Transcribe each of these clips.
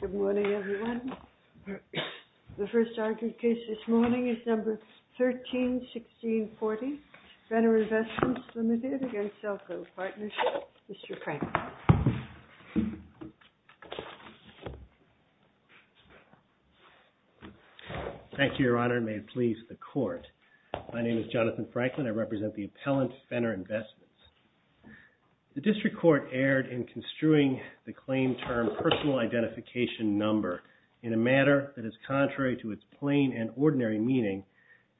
Good morning, everyone. The first argued case this morning is Number 13-1640, Fenner Investments, Ltd. v. Cellco Partnership. Mr. Franklin. Thank you, Your Honor, and may it please the Court. My name is Jonathan Franklin. I represent the appellant, Fenner Investments. The District Court erred in construing the claim termed personal identification number in a matter that is contrary to its plain and ordinary meaning,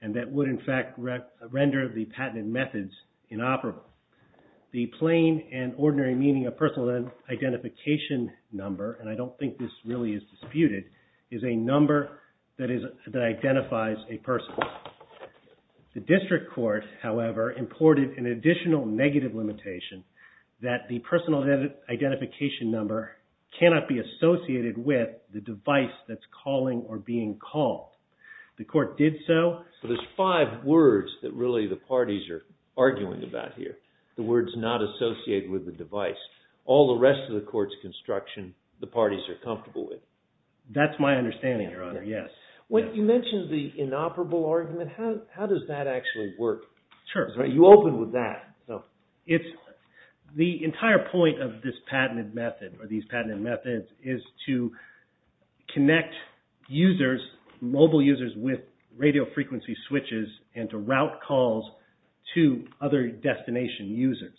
and that would, in fact, render the patented methods inoperable. The plain and ordinary meaning of personal identification number, and I don't think this really is disputed, is a number that identifies a person. The District Court, however, imported an additional negative limitation that the personal identification number cannot be associated with the device that's calling or being called. The Court did so. So there's five words that really the parties are arguing about here, the words not associated with the device. All the rest of the Court's construction, the parties are comfortable with. That's my understanding, Your Honor, yes. You mentioned the inoperable argument. How does that actually work? Sure. You opened with that. The entire point of this patented method or these patented methods is to connect users, mobile users, with radio frequency switches and to route calls to other destination users.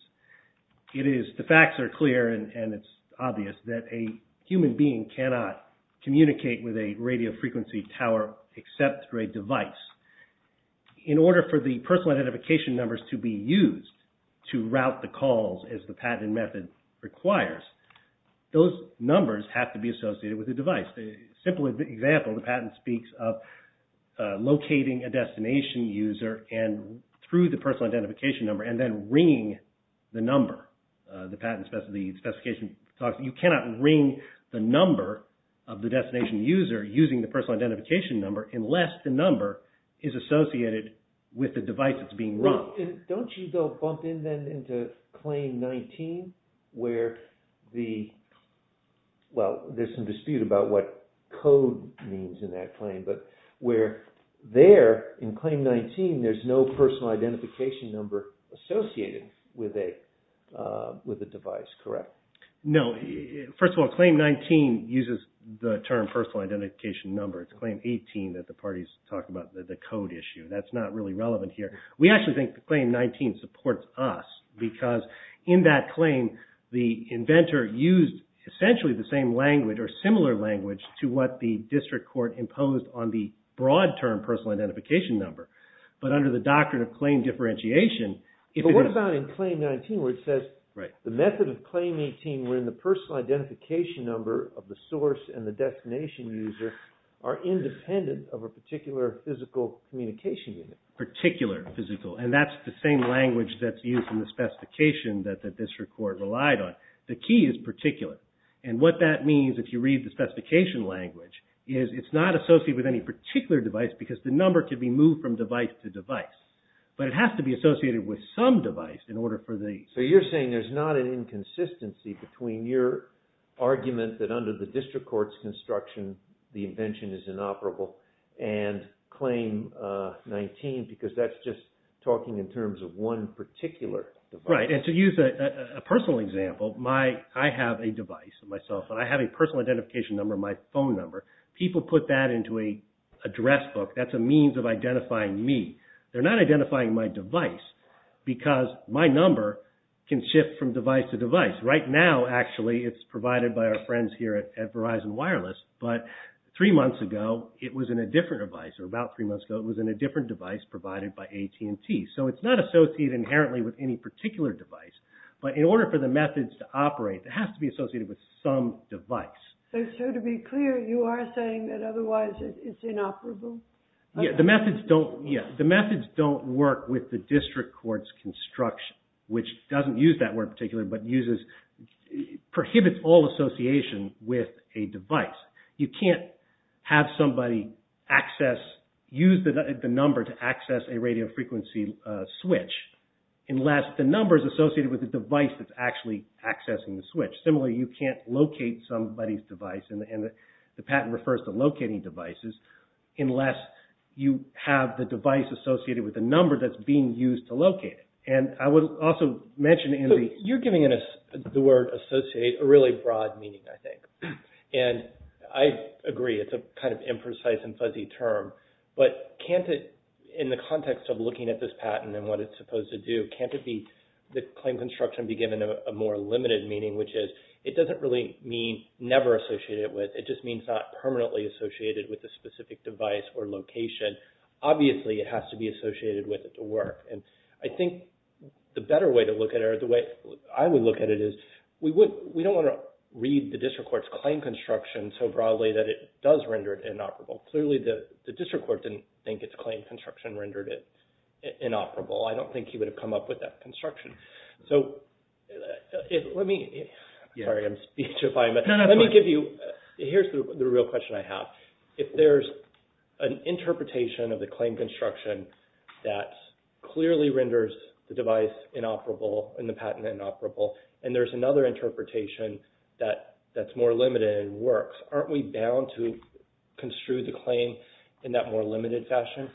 The facts are clear and it's obvious that a human being cannot communicate with a radio frequency tower except through a device. In order for the personal identification numbers to be used to route the calls, as the patented method requires, those numbers have to be associated with a device. A simple example, the patent speaks of locating a destination user through the personal identification number and then ringing the number. The patent specifies, you cannot ring the number of the destination user using the personal identification number unless the number is associated with the device that's being run. Don't you go bump in then into Claim 19 where the, well, there's some dispute about what code means in that claim, but where there, in Claim 19, there's no personal identification number associated with a device, correct? No. First of all, Claim 19 uses the term personal identification number. It's Claim 18 that the parties talked about, the code issue. That's not really relevant here. We actually think that Claim 19 supports us because in that claim, the inventor used essentially the same language or similar language to what the district court imposed on the broad term personal identification number. But under the doctrine of claim differentiation, if it is... But what about in Claim 19 where it says the method of Claim 18 wherein the personal identification number of the source and the destination user are independent of a particular physical communication unit? Particular physical, and that's the same language that's used in the specification that the district court relied on. The key is particular, and what that means, if you read the specification language, is it's not associated with any particular device because the number can be moved from device to device. But it has to be associated with some device in order for the... So you're saying there's not an inconsistency between your argument that under the district court's construction the invention is inoperable and Claim 19 because that's just talking in terms of one particular device. Right, and to use a personal example, I have a device in my cell phone. I have a personal identification number in my phone number. People put that into an address book. That's a means of identifying me. They're not identifying my device because my number can shift from device to device. Right now, actually, it's provided by our friends here at Verizon Wireless, but three months ago it was in a different device, or about three months ago it was in a different device provided by AT&T. So it's not associated inherently with any particular device, but in order for the methods to operate, it has to be associated with some device. So to be clear, you are saying that otherwise it's inoperable? Yeah, the methods don't work with the district court's construction, which doesn't use that word particularly, but prohibits all association with a device. You can't have somebody use the number to access a radio frequency switch unless the number is associated with the device that's actually accessing the switch. Similarly, you can't locate somebody's device, and the patent refers to locating devices, unless you have the device associated with the number that's being used to locate it. You're giving the word associate a really broad meaning, I think, and I agree it's a kind of imprecise and fuzzy term, but can't it, in the context of looking at this patent and what it's supposed to do, can't the claim construction be given a more limited meaning, which is it doesn't really mean never associated with, it just means not permanently associated with a specific device or location. Obviously, it has to be associated with it to work, and I think the better way to look at it, or the way I would look at it, is we don't want to read the district court's claim construction so broadly that it does render it inoperable. Clearly, the district court didn't think its claim construction rendered it inoperable. I don't think he would have come up with that construction. So, let me, sorry, I'm speechifying, but let me give you, here's the real question I have. If there's an interpretation of the claim construction that clearly renders the device inoperable, and the patent inoperable, and there's another interpretation that's more limited and works, aren't we bound to construe the claim in that more limited fashion?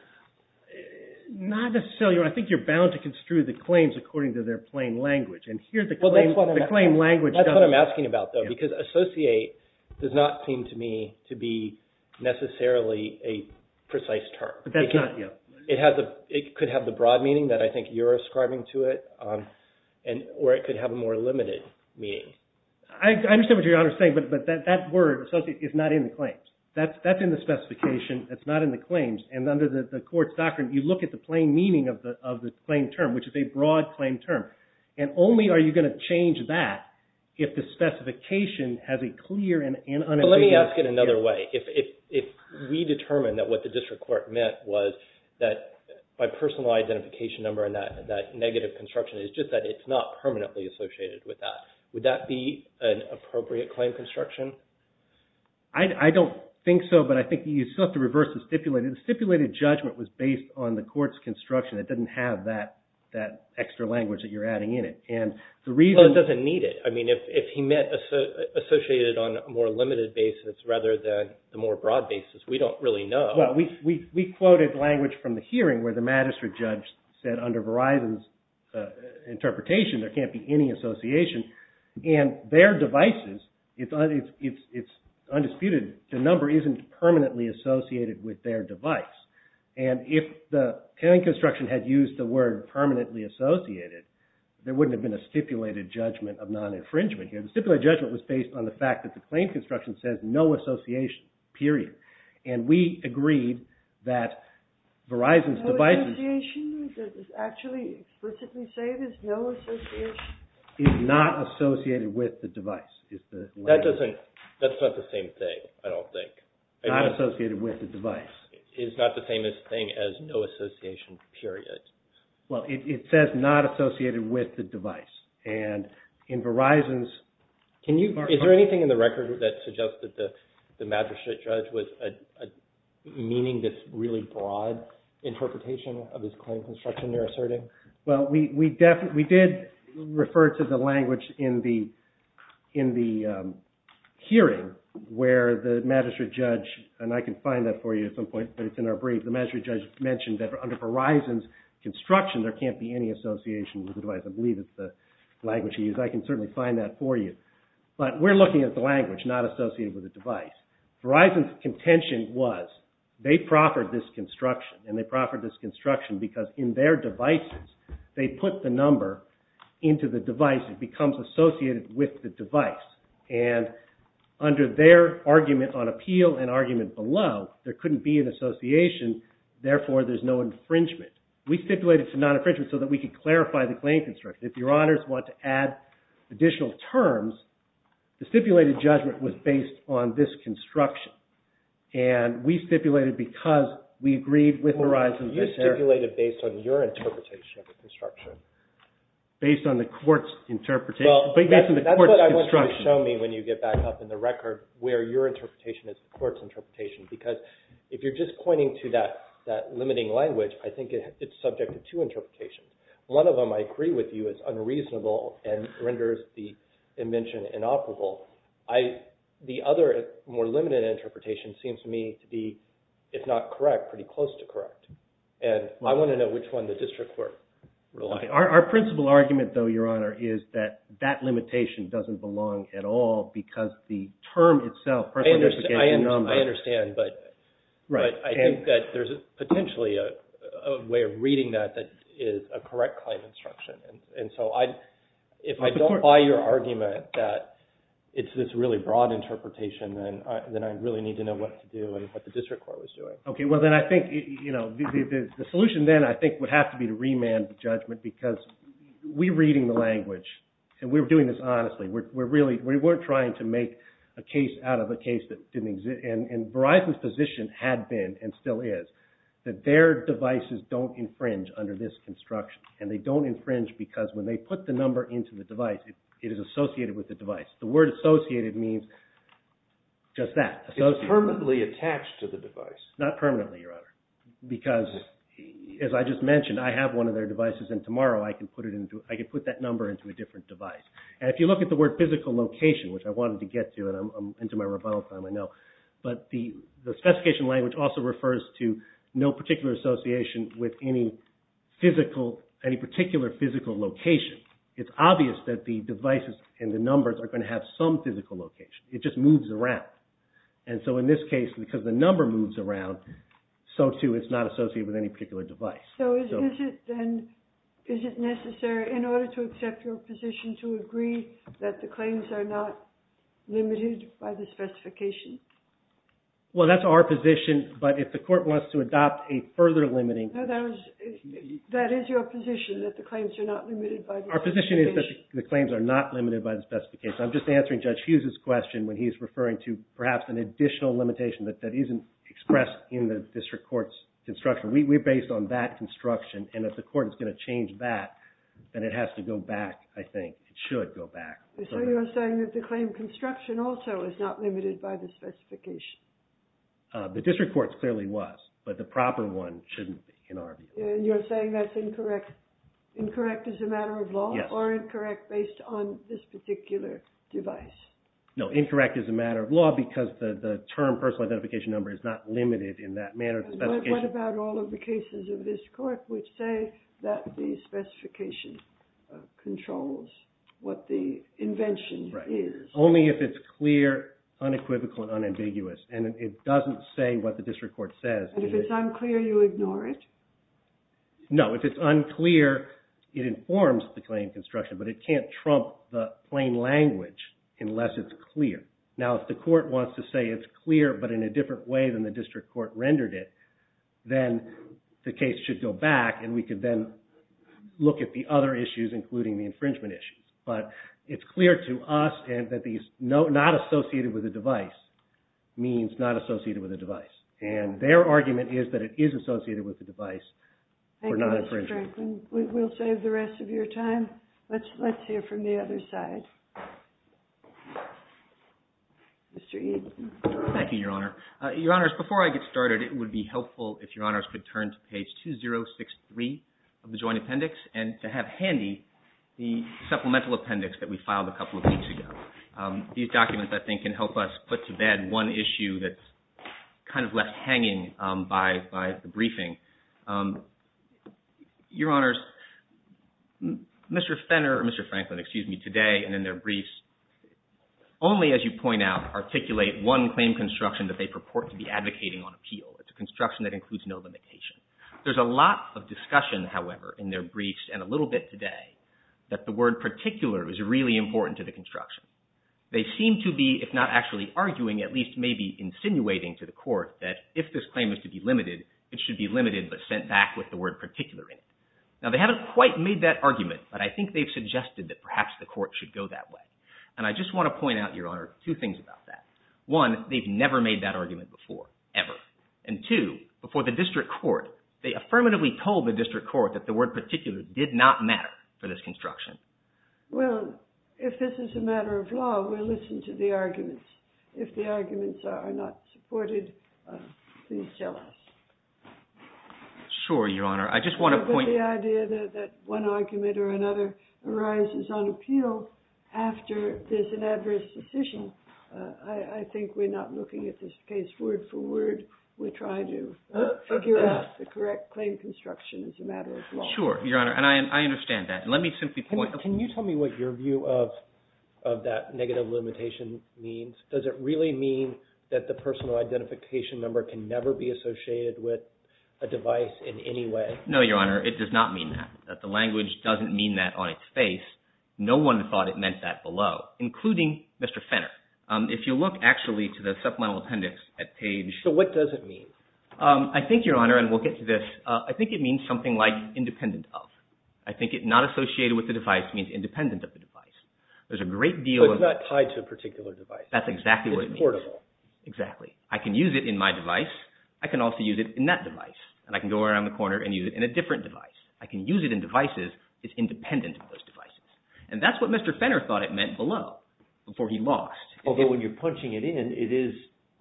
Not necessarily. I think you're bound to construe the claims according to their plain language, and here's the claim language. That's what I'm asking about, though, because associate does not seem to me to be necessarily a precise term. That's not, yeah. It could have the broad meaning that I think you're ascribing to it, or it could have a more limited meaning. I understand what you're saying, but that word, associate, is not in the claims. That's in the specification. It's not in the claims, and under the court's doctrine, you look at the plain meaning of the claim term, which is a broad claim term, and only are you going to change that if the specification has a clear and unambiguous. Let me ask it another way. If we determine that what the district court meant was that by personal identification number and that negative construction, it's just that it's not permanently associated with that, would that be an appropriate claim construction? I don't think so, but I think you still have to reverse the stipulated. The stipulated judgment was based on the court's construction. It doesn't have that extra language that you're adding in it. Well, it doesn't need it. I mean, if he meant associated on a more limited basis rather than the more broad basis, we don't really know. Well, we quoted language from the hearing where the magistrate judge said, under Verizon's interpretation, there can't be any association, and their devices, it's undisputed, the number isn't permanently associated with their device, and if the claim construction had used the word permanently associated, there wouldn't have been a stipulated judgment of non-infringement here. The stipulated judgment was based on the fact that the claim construction says no association, period, and we agreed that Verizon's devices... No association? Does it actually explicitly say there's no association? It's not associated with the device. That's not the same thing, I don't think. Not associated with the device. It's not the same thing as no association, period. Well, it says not associated with the device, and in Verizon's... Is there anything in the record that suggests that the magistrate judge was meaning this really broad interpretation of his claim construction you're asserting? Well, we did refer to the language in the hearing where the magistrate judge, and I can find that for you at some point, but it's in our brief, the magistrate judge mentioned that under Verizon's construction, there can't be any association with the device. I believe it's the language he used. I can certainly find that for you, but we're looking at the language, not associated with the device. Verizon's contention was they proffered this construction, and they proffered this construction because in their devices, they put the number into the device, it becomes associated with the device, and under their argument on appeal and argument below, there couldn't be an association, therefore there's no infringement. We stipulated it's a non-infringement so that we could clarify the claim construction. If your honors want to add additional terms, the stipulated judgment was based on this construction, and we stipulated because we agreed with Verizon. You stipulated based on your interpretation of the construction. Based on the court's interpretation. That's what I want you to show me when you get back up in the record, where your interpretation is the court's interpretation, because if you're just pointing to that limiting language, I think it's subject to two interpretations. One of them I agree with you is unreasonable and renders the invention inoperable. The other more limited interpretation seems to me to be, if not correct, pretty close to correct. I want to know which one the district court relied on. Our principle argument though, your honor, is that that limitation doesn't belong at all because the term itself personificates the number. I understand, but I think that there's potentially a way of reading that that is a correct claim construction. If I don't buy your argument that it's this really broad interpretation, then I really need to know what to do and what the district court was doing. Okay, well then I think the solution then I think would have to be to remand the judgment because we're reading the language, and we're doing this honestly. We weren't trying to make a case out of a case that didn't exist, and Verizon's position had been and still is that their devices don't infringe under this construction, and they don't infringe because when they put the number into the device, it is associated with the device. The word associated means just that. It's permanently attached to the device. Not permanently, your honor, because as I just mentioned, I have one of their devices, and tomorrow I can put that number into a different device. And if you look at the word physical location, which I wanted to get to, and I'm into my rebuttal time, I know, but the specification language also refers to no particular association with any particular physical location. It's obvious that the devices and the numbers are going to have some physical location. It just moves around. And so in this case, because the number moves around, so too it's not associated with any particular device. So is it necessary in order to accept your position to agree that the claims are not limited by the specification? Well, that's our position, but if the court wants to adopt a further limiting... No, that is your position, that the claims are not limited by the specification. Our position is that the claims are not limited by the specification. I'm just answering Judge Hughes's question when he's referring to perhaps an additional limitation that isn't expressed in the district court's construction. We're based on that construction, and if the court is going to change that, then it has to go back, I think. It should go back. So you're saying that the claim construction also is not limited by the specification? The district court clearly was, but the proper one shouldn't be, in our view. And you're saying that's incorrect as a matter of law, or incorrect based on this particular device? No, incorrect as a matter of law, because the term personal identification number is not limited in that manner. What about all of the cases of this court which say that the specification controls what the invention is? Only if it's clear, unequivocal, and unambiguous, and it doesn't say what the district court says. And if it's unclear, you ignore it? No, if it's unclear, it informs the claim construction, but it can't trump the plain language unless it's clear. Now, if the court wants to say it's clear, but in a different way than the district court rendered it, then the case should go back, and we could then look at the other issues including the infringement issues. But it's clear to us that these not associated with the device means not associated with the device. And their argument is that it is associated with the device for not infringing. Thank you, Mr. Franklin. We'll save the rest of your time. Let's hear from the other side. Mr. Eaton. Thank you, Your Honor. Your Honors, before I get started, it would be helpful if Your Honors could turn to page 2063 of the Joint Appendix and to have handy the supplemental appendix that we filed a couple of weeks ago. These documents, I think, can help us put to bed one issue that's kind of left hanging by the briefing. Your Honors, Mr. Fenner or Mr. Franklin, excuse me, today and in their briefs only, as you point out, articulate one claim construction that they purport to be advocating on appeal. It's a construction that includes no limitation. There's a lot of discussion, however, in their briefs and a little bit today, that the word particular is really important to the construction. They seem to be, if not actually arguing, at least maybe insinuating to the court that if this claim is to be limited, it should be limited but sent back with the word particular in it. Now, they haven't quite made that argument, but I think they've suggested that perhaps the court should go that way. And I just want to point out, Your Honor, two things about that. One, they've never made that argument before, ever. And two, before the district court, they affirmatively told the district court that the word particular did not matter for this construction. Well, if this is a matter of law, we'll listen to the arguments. If the arguments are not supported, please tell us. Sure, Your Honor. I just want to point... But the idea that one argument or another arises on appeal after there's an adverse decision, I think we're not looking at this case word for word. We try to figure out the correct claim construction as a matter of law. Sure, Your Honor, and I understand that. Let me simply point... Can you tell me what your view of that negative limitation means? Does it really mean that the personal identification number can never be associated with a device in any way? No, Your Honor, it does not mean that. The language doesn't mean that on its face. No one thought it meant that below, including Mr. Fenner. If you look actually to the supplemental appendix at page... So what does it mean? I think, Your Honor, and we'll get to this, I think it means something like independent of. I think it not associated with the device means independent of the device. There's a great deal of... So it's not tied to a particular device. That's exactly what it means. It's portable. Exactly. I can use it in my device. I can also use it in that device. And I can go around the corner and use it in a different device. I can use it in devices. It's independent of those devices. And that's what Mr. Fenner thought it meant below before he lost. Although when you're punching it in, it is...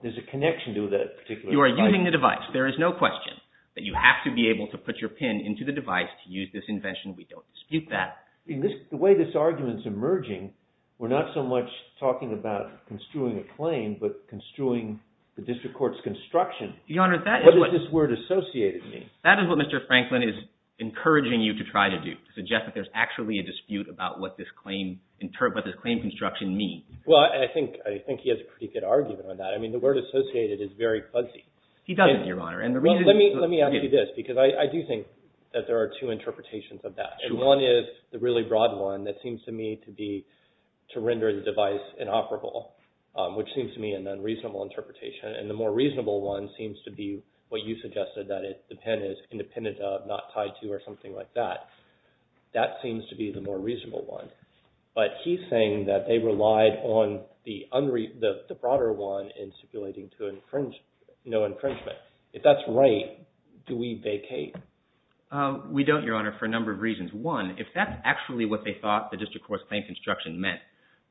There's a connection to that particular... You are using the device. There is no question that you have to be able to put your pin into the device to use this invention. We don't dispute that. The way this argument's emerging, we're not so much talking about construing a claim but construing the district court's construction. Your Honor, that is what... What does this word associated mean? That is what Mr. Franklin is encouraging you to try to do, to suggest that there's actually a dispute about what this claim construction means. Well, I think he has a pretty good argument on that. I mean, the word associated is very fuzzy. He doesn't, Your Honor. Let me ask you this because I do think that there are two interpretations of that. And one is the really broad one that seems to me to be to render the device inoperable, which seems to me an unreasonable interpretation. And the more reasonable one seems to be what you suggested, that the pin is independent of, not tied to, or something like that. That seems to be the more reasonable one. But he's saying that they relied on the broader one in stipulating no infringement. If that's right, do we vacate? We don't, Your Honor, for a number of reasons. One, if that's actually what they thought the district court's claim construction meant,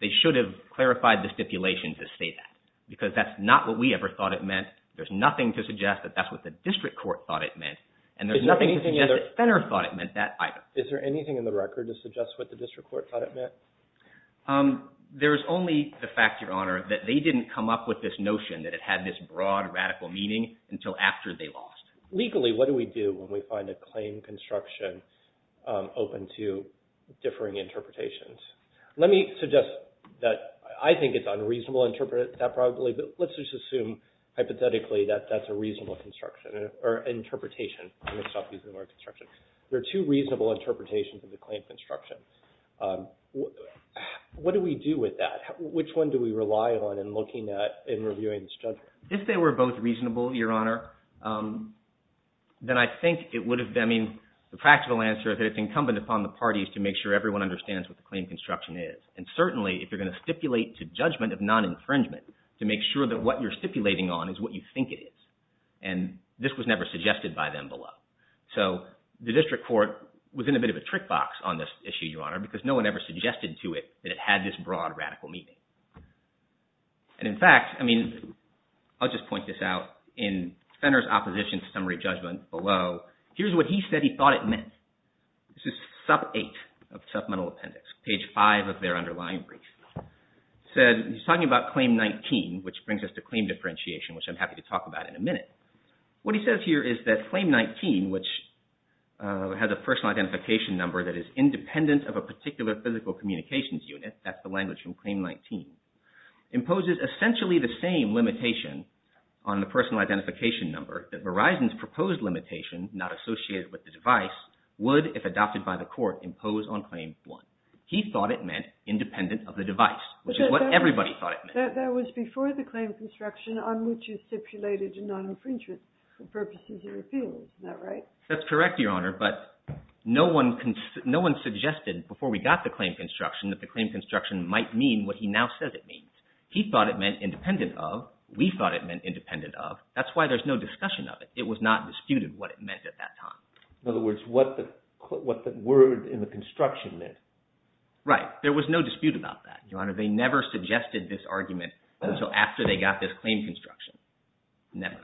they should have clarified the stipulation to state that because that's not what we ever thought it meant. There's nothing to suggest that that's what the district court thought it meant. And there's nothing to suggest that Fenner thought it meant that either. Is there anything in the record to suggest what the district court thought it meant? There is only the fact, Your Honor, that they didn't come up with this notion that it had this broad, radical meaning until after they lost. Legally, what do we do when we find a claim construction open to differing interpretations? Let me suggest that I think it's unreasonable to interpret that probably, but let's just assume hypothetically that that's a reasonable construction or interpretation. I'm going to stop using the word construction. There are two reasonable interpretations of the claim construction. What do we do with that? Which one do we rely on in looking at and reviewing this judgment? If they were both reasonable, Your Honor, then I think it would have been – I mean, the practical answer is that it's incumbent upon the parties to make sure everyone understands what the claim construction is. And certainly, if you're going to stipulate to judgment of non-infringement to make sure that what you're stipulating on is what you think it is. And this was never suggested by them below. So the district court was in a bit of a trick box on this issue, Your Honor, because no one ever suggested to it that it had this broad, radical meaning. And in fact, I mean, I'll just point this out. In Fenner's opposition to summary judgment below, here's what he said he thought it meant. This is sub 8 of supplemental appendix, page 5 of their underlying brief. He said – he's talking about Claim 19, which brings us to claim differentiation, which I'm happy to talk about in a minute. What he says here is that Claim 19, which has a personal identification number that is independent of a particular physical communications unit – that's the language from Claim 19 – imposes essentially the same limitation on the personal identification number that Verizon's proposed limitation, not associated with the device, would, if adopted by the court, impose on Claim 1. He thought it meant independent of the device, which is what everybody thought it meant. That was before the claim construction on which you stipulated non-infringement for purposes of repeal. Isn't that right? That's correct, Your Honor, but no one suggested before we got the claim construction that the claim construction might mean what he now says it means. He thought it meant independent of. We thought it meant independent of. That's why there's no discussion of it. It was not disputed what it meant at that time. In other words, what the word in the construction meant. Right. There was no dispute about that, Your Honor. They never suggested this argument until after they got this claim construction. Never.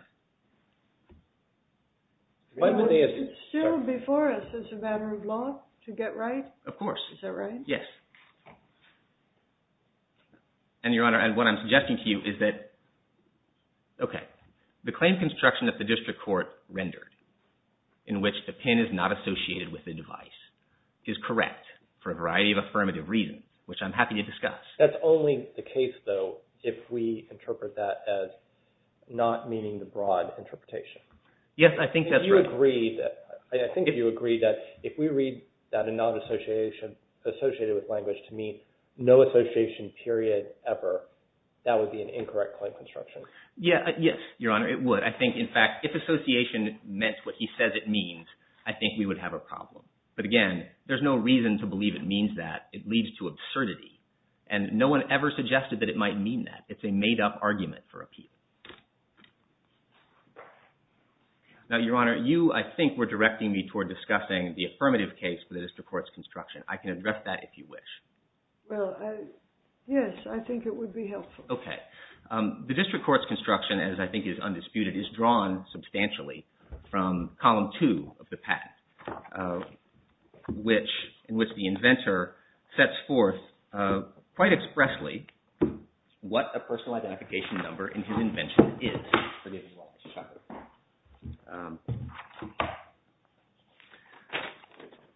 Is it still before us as a matter of law to get right? Of course. Is that right? Yes. And, Your Honor, what I'm suggesting to you is that, okay, the claim construction that the district court rendered in which the pin is not associated with the device is correct for a variety of affirmative reasons, which I'm happy to discuss. That's only the case, though, if we interpret that as not meeting the broad interpretation. Yes, I think that's right. I think if you agree that if we read that a non-association associated with language to mean no association period ever, that would be an incorrect claim construction. Yes, Your Honor, it would. I think, in fact, if association meant what he says it means, I think we would have a problem. But, again, there's no reason to believe it means that. It leads to absurdity, and no one ever suggested that it might mean that. It's a made-up argument for appeal. Now, Your Honor, you, I think, were directing me toward discussing the affirmative case for the district court's construction. I can address that if you wish. Well, yes, I think it would be helpful. The district court's construction, as I think is undisputed, is drawn substantially from column two of the patent, in which the inventor sets forth quite expressly what a personalized application number in his invention is.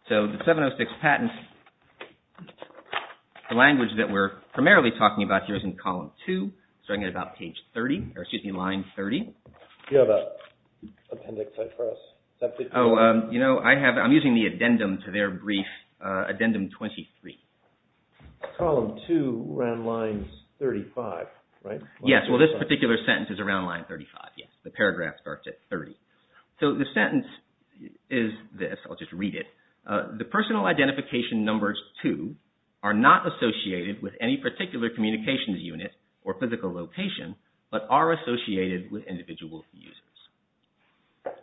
So, the 706 patent, the language that we're primarily talking about here is in column two, starting at about page 30, or excuse me, line 30. Do you have an appendix set for us? Oh, you know, I'm using the addendum to their brief, addendum 23. Column two, around line 35, right? Yes, well, this particular sentence is around line 35, yes. The paragraph starts at 30. So, the sentence is this, I'll just read it. The personal identification numbers, too, are not associated with any particular communications unit or physical location, but are associated with individual users.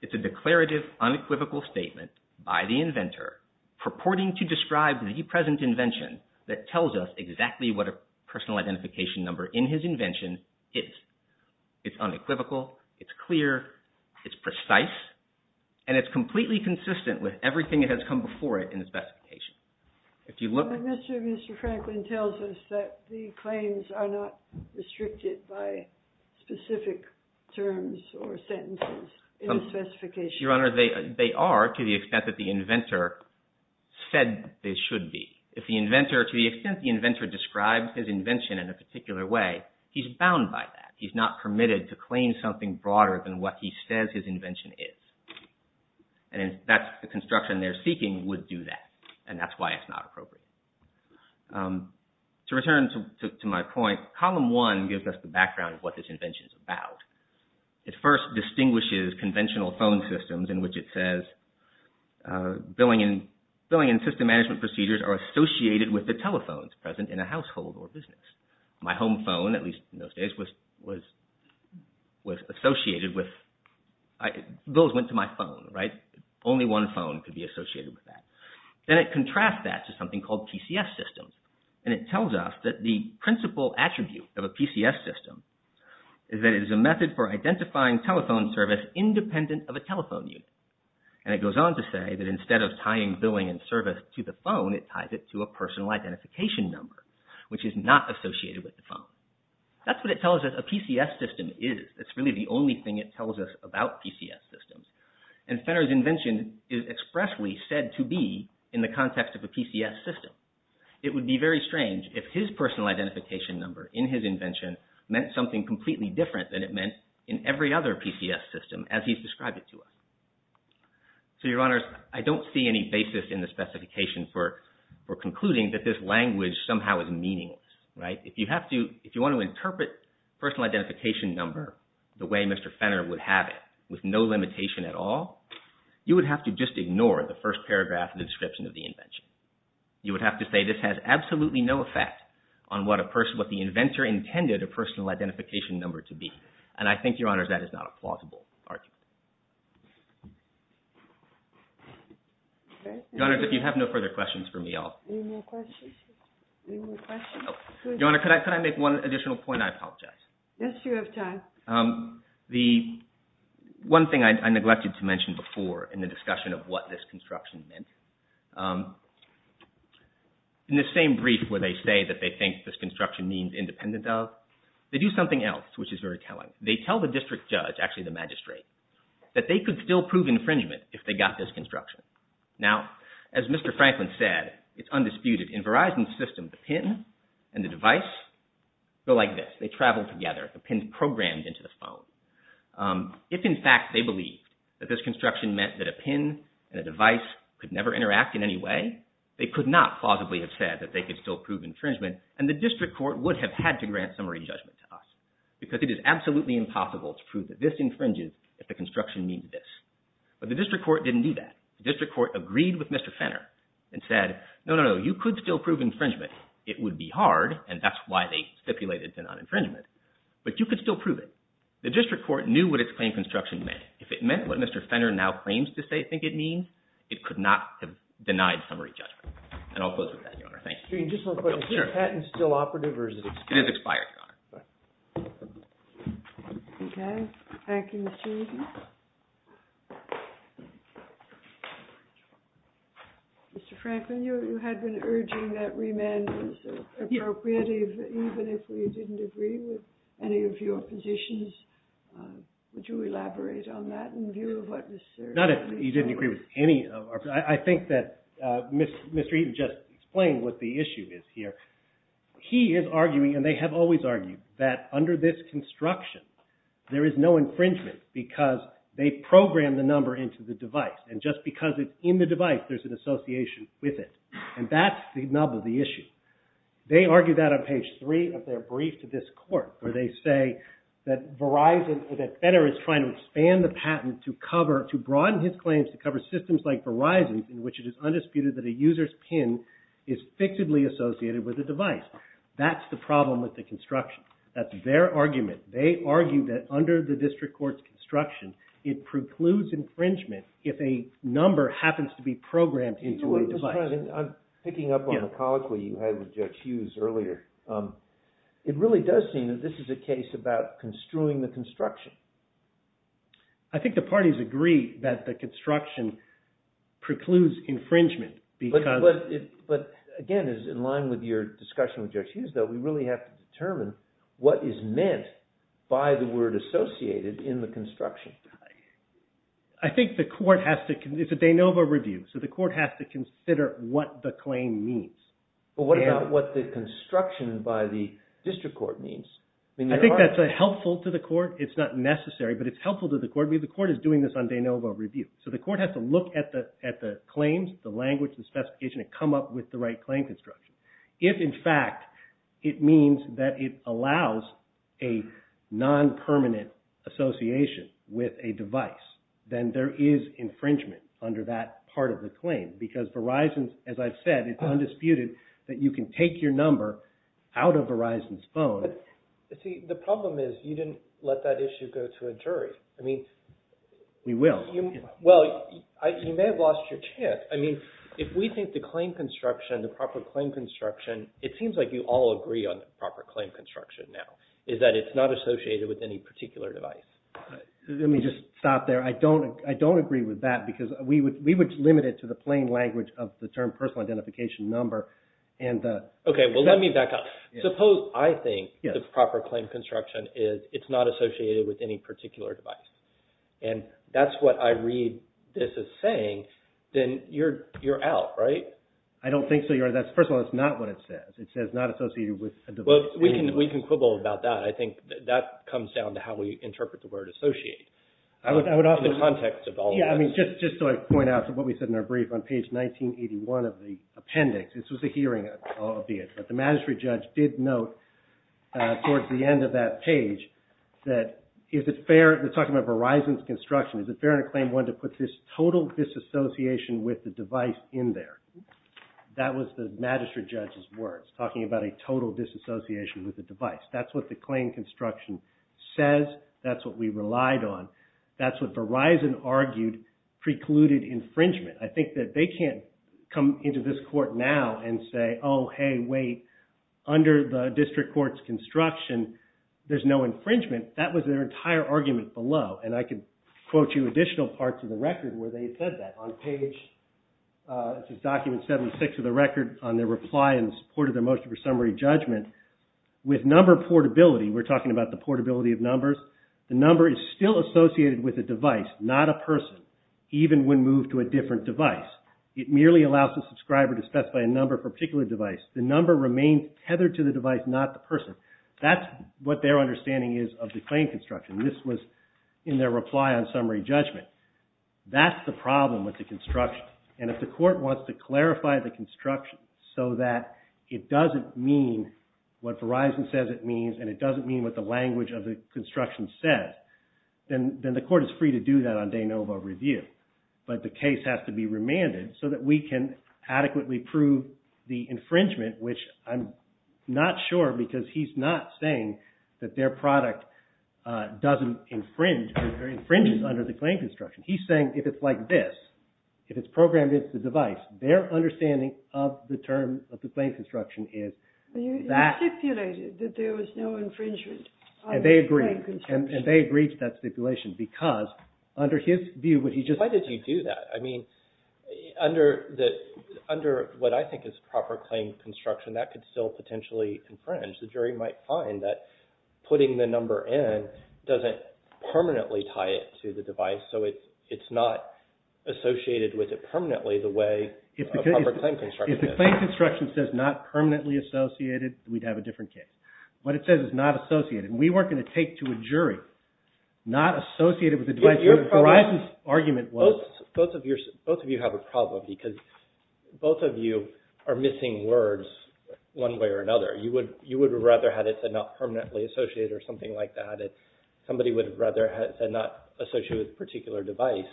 It's a declarative, unequivocal statement by the inventor, purporting to describe the present invention that tells us exactly what a personal identification number in his invention is. It's unequivocal, it's clear, it's precise, and it's completely consistent with everything that has come before it in the specification. Mr. Franklin tells us that the claims are not restricted by specific terms or sentences in the specification. Your Honor, they are to the extent that the inventor said they should be. If the inventor, to the extent the inventor describes his invention in a particular way, he's bound by that. He's not permitted to claim something broader than what he says his invention is. And that's the construction they're seeking would do that, and that's why it's not appropriate. To return to my point, column one gives us the background of what this invention is about. It first distinguishes conventional phone systems in which it says, Billing and system management procedures are associated with the telephones present in a household or business. My home phone, at least in those days, was associated with... bills went to my phone, right? Only one phone could be associated with that. Then it contrasts that to something called PCS systems, and it tells us that the principal attribute of a PCS system is that it is a method for identifying telephone service independent of a telephone unit. And it goes on to say that instead of tying billing and service to the phone, it ties it to a personal identification number, which is not associated with the phone. That's what it tells us a PCS system is. It's really the only thing it tells us about PCS systems. And Fenner's invention is expressly said to be in the context of a PCS system. It would be very strange if his personal identification number in his invention meant something completely different than it meant in every other PCS system as he's described it to us. So, Your Honors, I don't see any basis in the specification for concluding that this language somehow is meaningless, right? If you want to interpret personal identification number the way Mr. Fenner would have it, with no limitation at all, you would have to just ignore the first paragraph of the description of the invention. You would have to say this has absolutely no effect on what the inventor intended a personal identification number to be. And I think, Your Honors, that is not a plausible argument. Your Honors, if you have no further questions for me, I'll... Any more questions? Your Honor, could I make one additional point? I apologize. Yes, you have time. The one thing I neglected to mention before in the discussion of what this construction meant, in the same brief where they say that they think this construction means independent of, they do something else which is very telling. They tell the district judge, actually the magistrate, that they could still prove infringement if they got this construction. Now, as Mr. Franklin said, it's undisputed. In Verizon's system, the pin and the device go like this. They travel together. The pin's programmed into the phone. If, in fact, they believed that this construction meant that a pin and a device could never interact in any way, they could not plausibly have said that they could still prove infringement and the district court would have had to grant summary judgment to us because it is absolutely impossible to prove that this infringes if the construction means this. But the district court didn't do that. The district court agreed with Mr. Fenner and said, no, no, no, you could still prove infringement. It would be hard, and that's why they stipulated the non-infringement, but you could still prove it. The district court knew what its claim construction meant. If it meant what Mr. Fenner now claims to think it means, it could not have denied summary judgment. And I'll close with that, Your Honor. Is this patent still operative or is it expired? It is expired, Your Honor. Okay. Thank you, Mr. Eaton. Mr. Franklin, you had been urging that remand was appropriate, even if we didn't agree with any of your positions. Would you elaborate on that in view of what was served? Not if you didn't agree with any of our positions. I think that Mr. Eaton just explained what the issue is here. He is arguing, and they have always argued, that under this construction, there is no infringement because they programmed the number into the device. And just because it's in the device, there's an association with it. And that's the nub of the issue. They argue that on page three of their brief to this court, where they say that Verizon, that Fenner is trying to expand the patent to cover, not in his claims to cover systems like Verizon, in which it is undisputed that a user's PIN is fixedly associated with a device. That's the problem with the construction. That's their argument. They argue that under the district court's construction, it precludes infringement if a number happens to be programmed into a device. I'm picking up on the college where you had with Judge Hughes earlier. It really does seem that this is a case about construing the construction. I think the parties agree that the construction precludes infringement. But again, in line with your discussion with Judge Hughes, we really have to determine what is meant by the word associated in the construction. I think the court has to, it's a de novo review, so the court has to consider what the claim means. But what about what the construction by the district court means? I think that's helpful to the court. It's not necessary, but it's helpful to the court, because the court is doing this on de novo review. So the court has to look at the claims, the language, the specification, and come up with the right claim construction. If, in fact, it means that it allows a non-permanent association with a device, then there is infringement under that part of the claim. Because Verizon, as I've said, it's undisputed that you can take your number out of Verizon's phone. But see, the problem is you didn't let that issue go to a jury. We will. Well, you may have lost your chance. If we think the claim construction, the proper claim construction, it seems like you all agree on the proper claim construction now, is that it's not associated with any particular device. Let me just stop there. I don't agree with that, because we would limit it to the plain language of the term personal identification number. Okay, well, let me back up. Suppose I think the proper claim construction is it's not associated with any particular device. And that's what I read this as saying, then you're out, right? I don't think so, Your Honor. First of all, that's not what it says. It says not associated with a device. Well, we can quibble about that. I think that comes down to how we interpret the word associate. I would also – In the context of all of this. Yeah, I mean, just so I point out to what we said in our brief, on page 1981 of the appendix, this was a hearing, albeit, but the magistrate judge did note, towards the end of that page, that is it fair – they're talking about Verizon's construction. Is it fair in a claim one to put this total disassociation with the device in there? That was the magistrate judge's words, talking about a total disassociation with the device. That's what the claim construction says. That's what we relied on. That's what Verizon argued precluded infringement. I think that they can't come into this court now and say, oh, hey, wait, under the district court's construction, there's no infringement. That was their entire argument below, and I could quote you additional parts of the record where they said that. On page – this is document 76 of the record, on their reply in support of their motion for summary judgment, with number portability, we're talking about the portability of numbers, the number is still associated with a device, not a person, even when moved to a different device. It merely allows the subscriber to specify a number for a particular device. The number remains tethered to the device, not the person. That's what their understanding is of the claim construction. This was in their reply on summary judgment. That's the problem with the construction, and if the court wants to clarify the construction so that it doesn't mean what Verizon says it means and it doesn't mean what the language of the construction says, then the court is free to do that on de novo review. But the case has to be remanded so that we can adequately prove the infringement, which I'm not sure because he's not saying that their product doesn't infringe, or infringes under the claim construction. He's saying if it's like this, if it's programmed against the device, their understanding of the terms of the claim construction is that – He stipulated that there was no infringement of the claim construction. And they agreed to that stipulation because, under his view, what he just – Why did you do that? I mean, under what I think is proper claim construction, that could still potentially infringe. The jury might find that putting the number in doesn't permanently tie it to the device, so it's not associated with it permanently the way a proper claim construction is. If the claim construction says not permanently associated, we'd have a different case. What it says is not associated. We weren't going to take to a jury not associated with the device. Your argument was – Both of you have a problem because both of you are missing words one way or another. You would rather have it said not permanently associated or something like that. Somebody would rather have it said not associated with a particular device.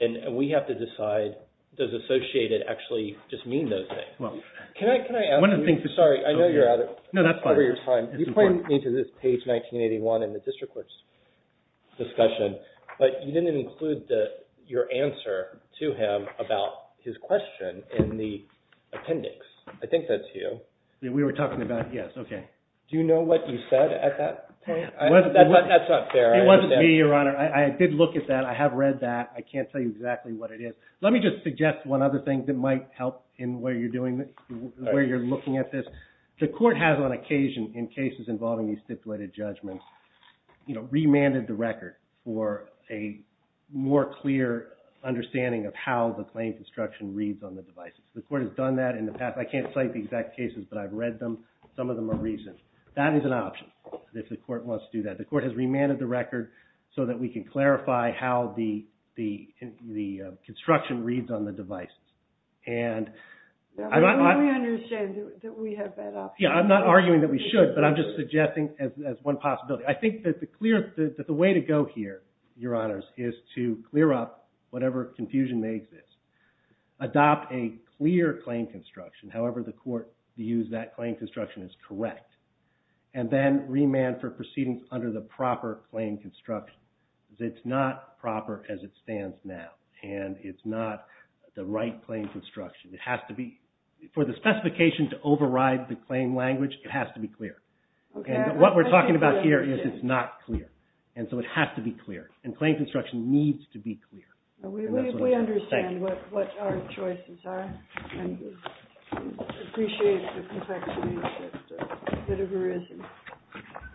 And we have to decide, does associated actually just mean those things? Can I ask you – Sorry, I know you're out of – No, that's fine. Over your time. You pointed me to this page 1981 in the district court's discussion, but you didn't include your answer to him about his question in the appendix. I think that's you. We were talking about it. Yes, okay. Do you know what you said at that point? That's not fair. It wasn't me, Your Honor. I did look at that. I have read that. I can't tell you exactly what it is. Let me just suggest one other thing that might help in where you're looking at this. The court has on occasion, in cases involving these stipulated judgments, remanded the record for a more clear understanding of how the claim construction reads on the devices. The court has done that in the past. I can't cite the exact cases, but I've read them. Some of them are recent. That is an option if the court wants to do that. The court has remanded the record so that we can clarify how the construction reads on the devices. Let me understand that we have that option. I'm not arguing that we should, but I'm just suggesting as one possibility. I think that the way to go here, Your Honors, is to clear up whatever confusion may exist, adopt a clear claim construction, however the court views that claim construction is correct, and then remand for proceedings under the proper claim construction. It's not proper as it stands now, and it's not the right claim construction. For the specification to override the claim language, it has to be clear. What we're talking about here is it's not clear, and so it has to be clear, and claim construction needs to be clear. We understand what our choices are. Thank you. I appreciate the compaction that there is.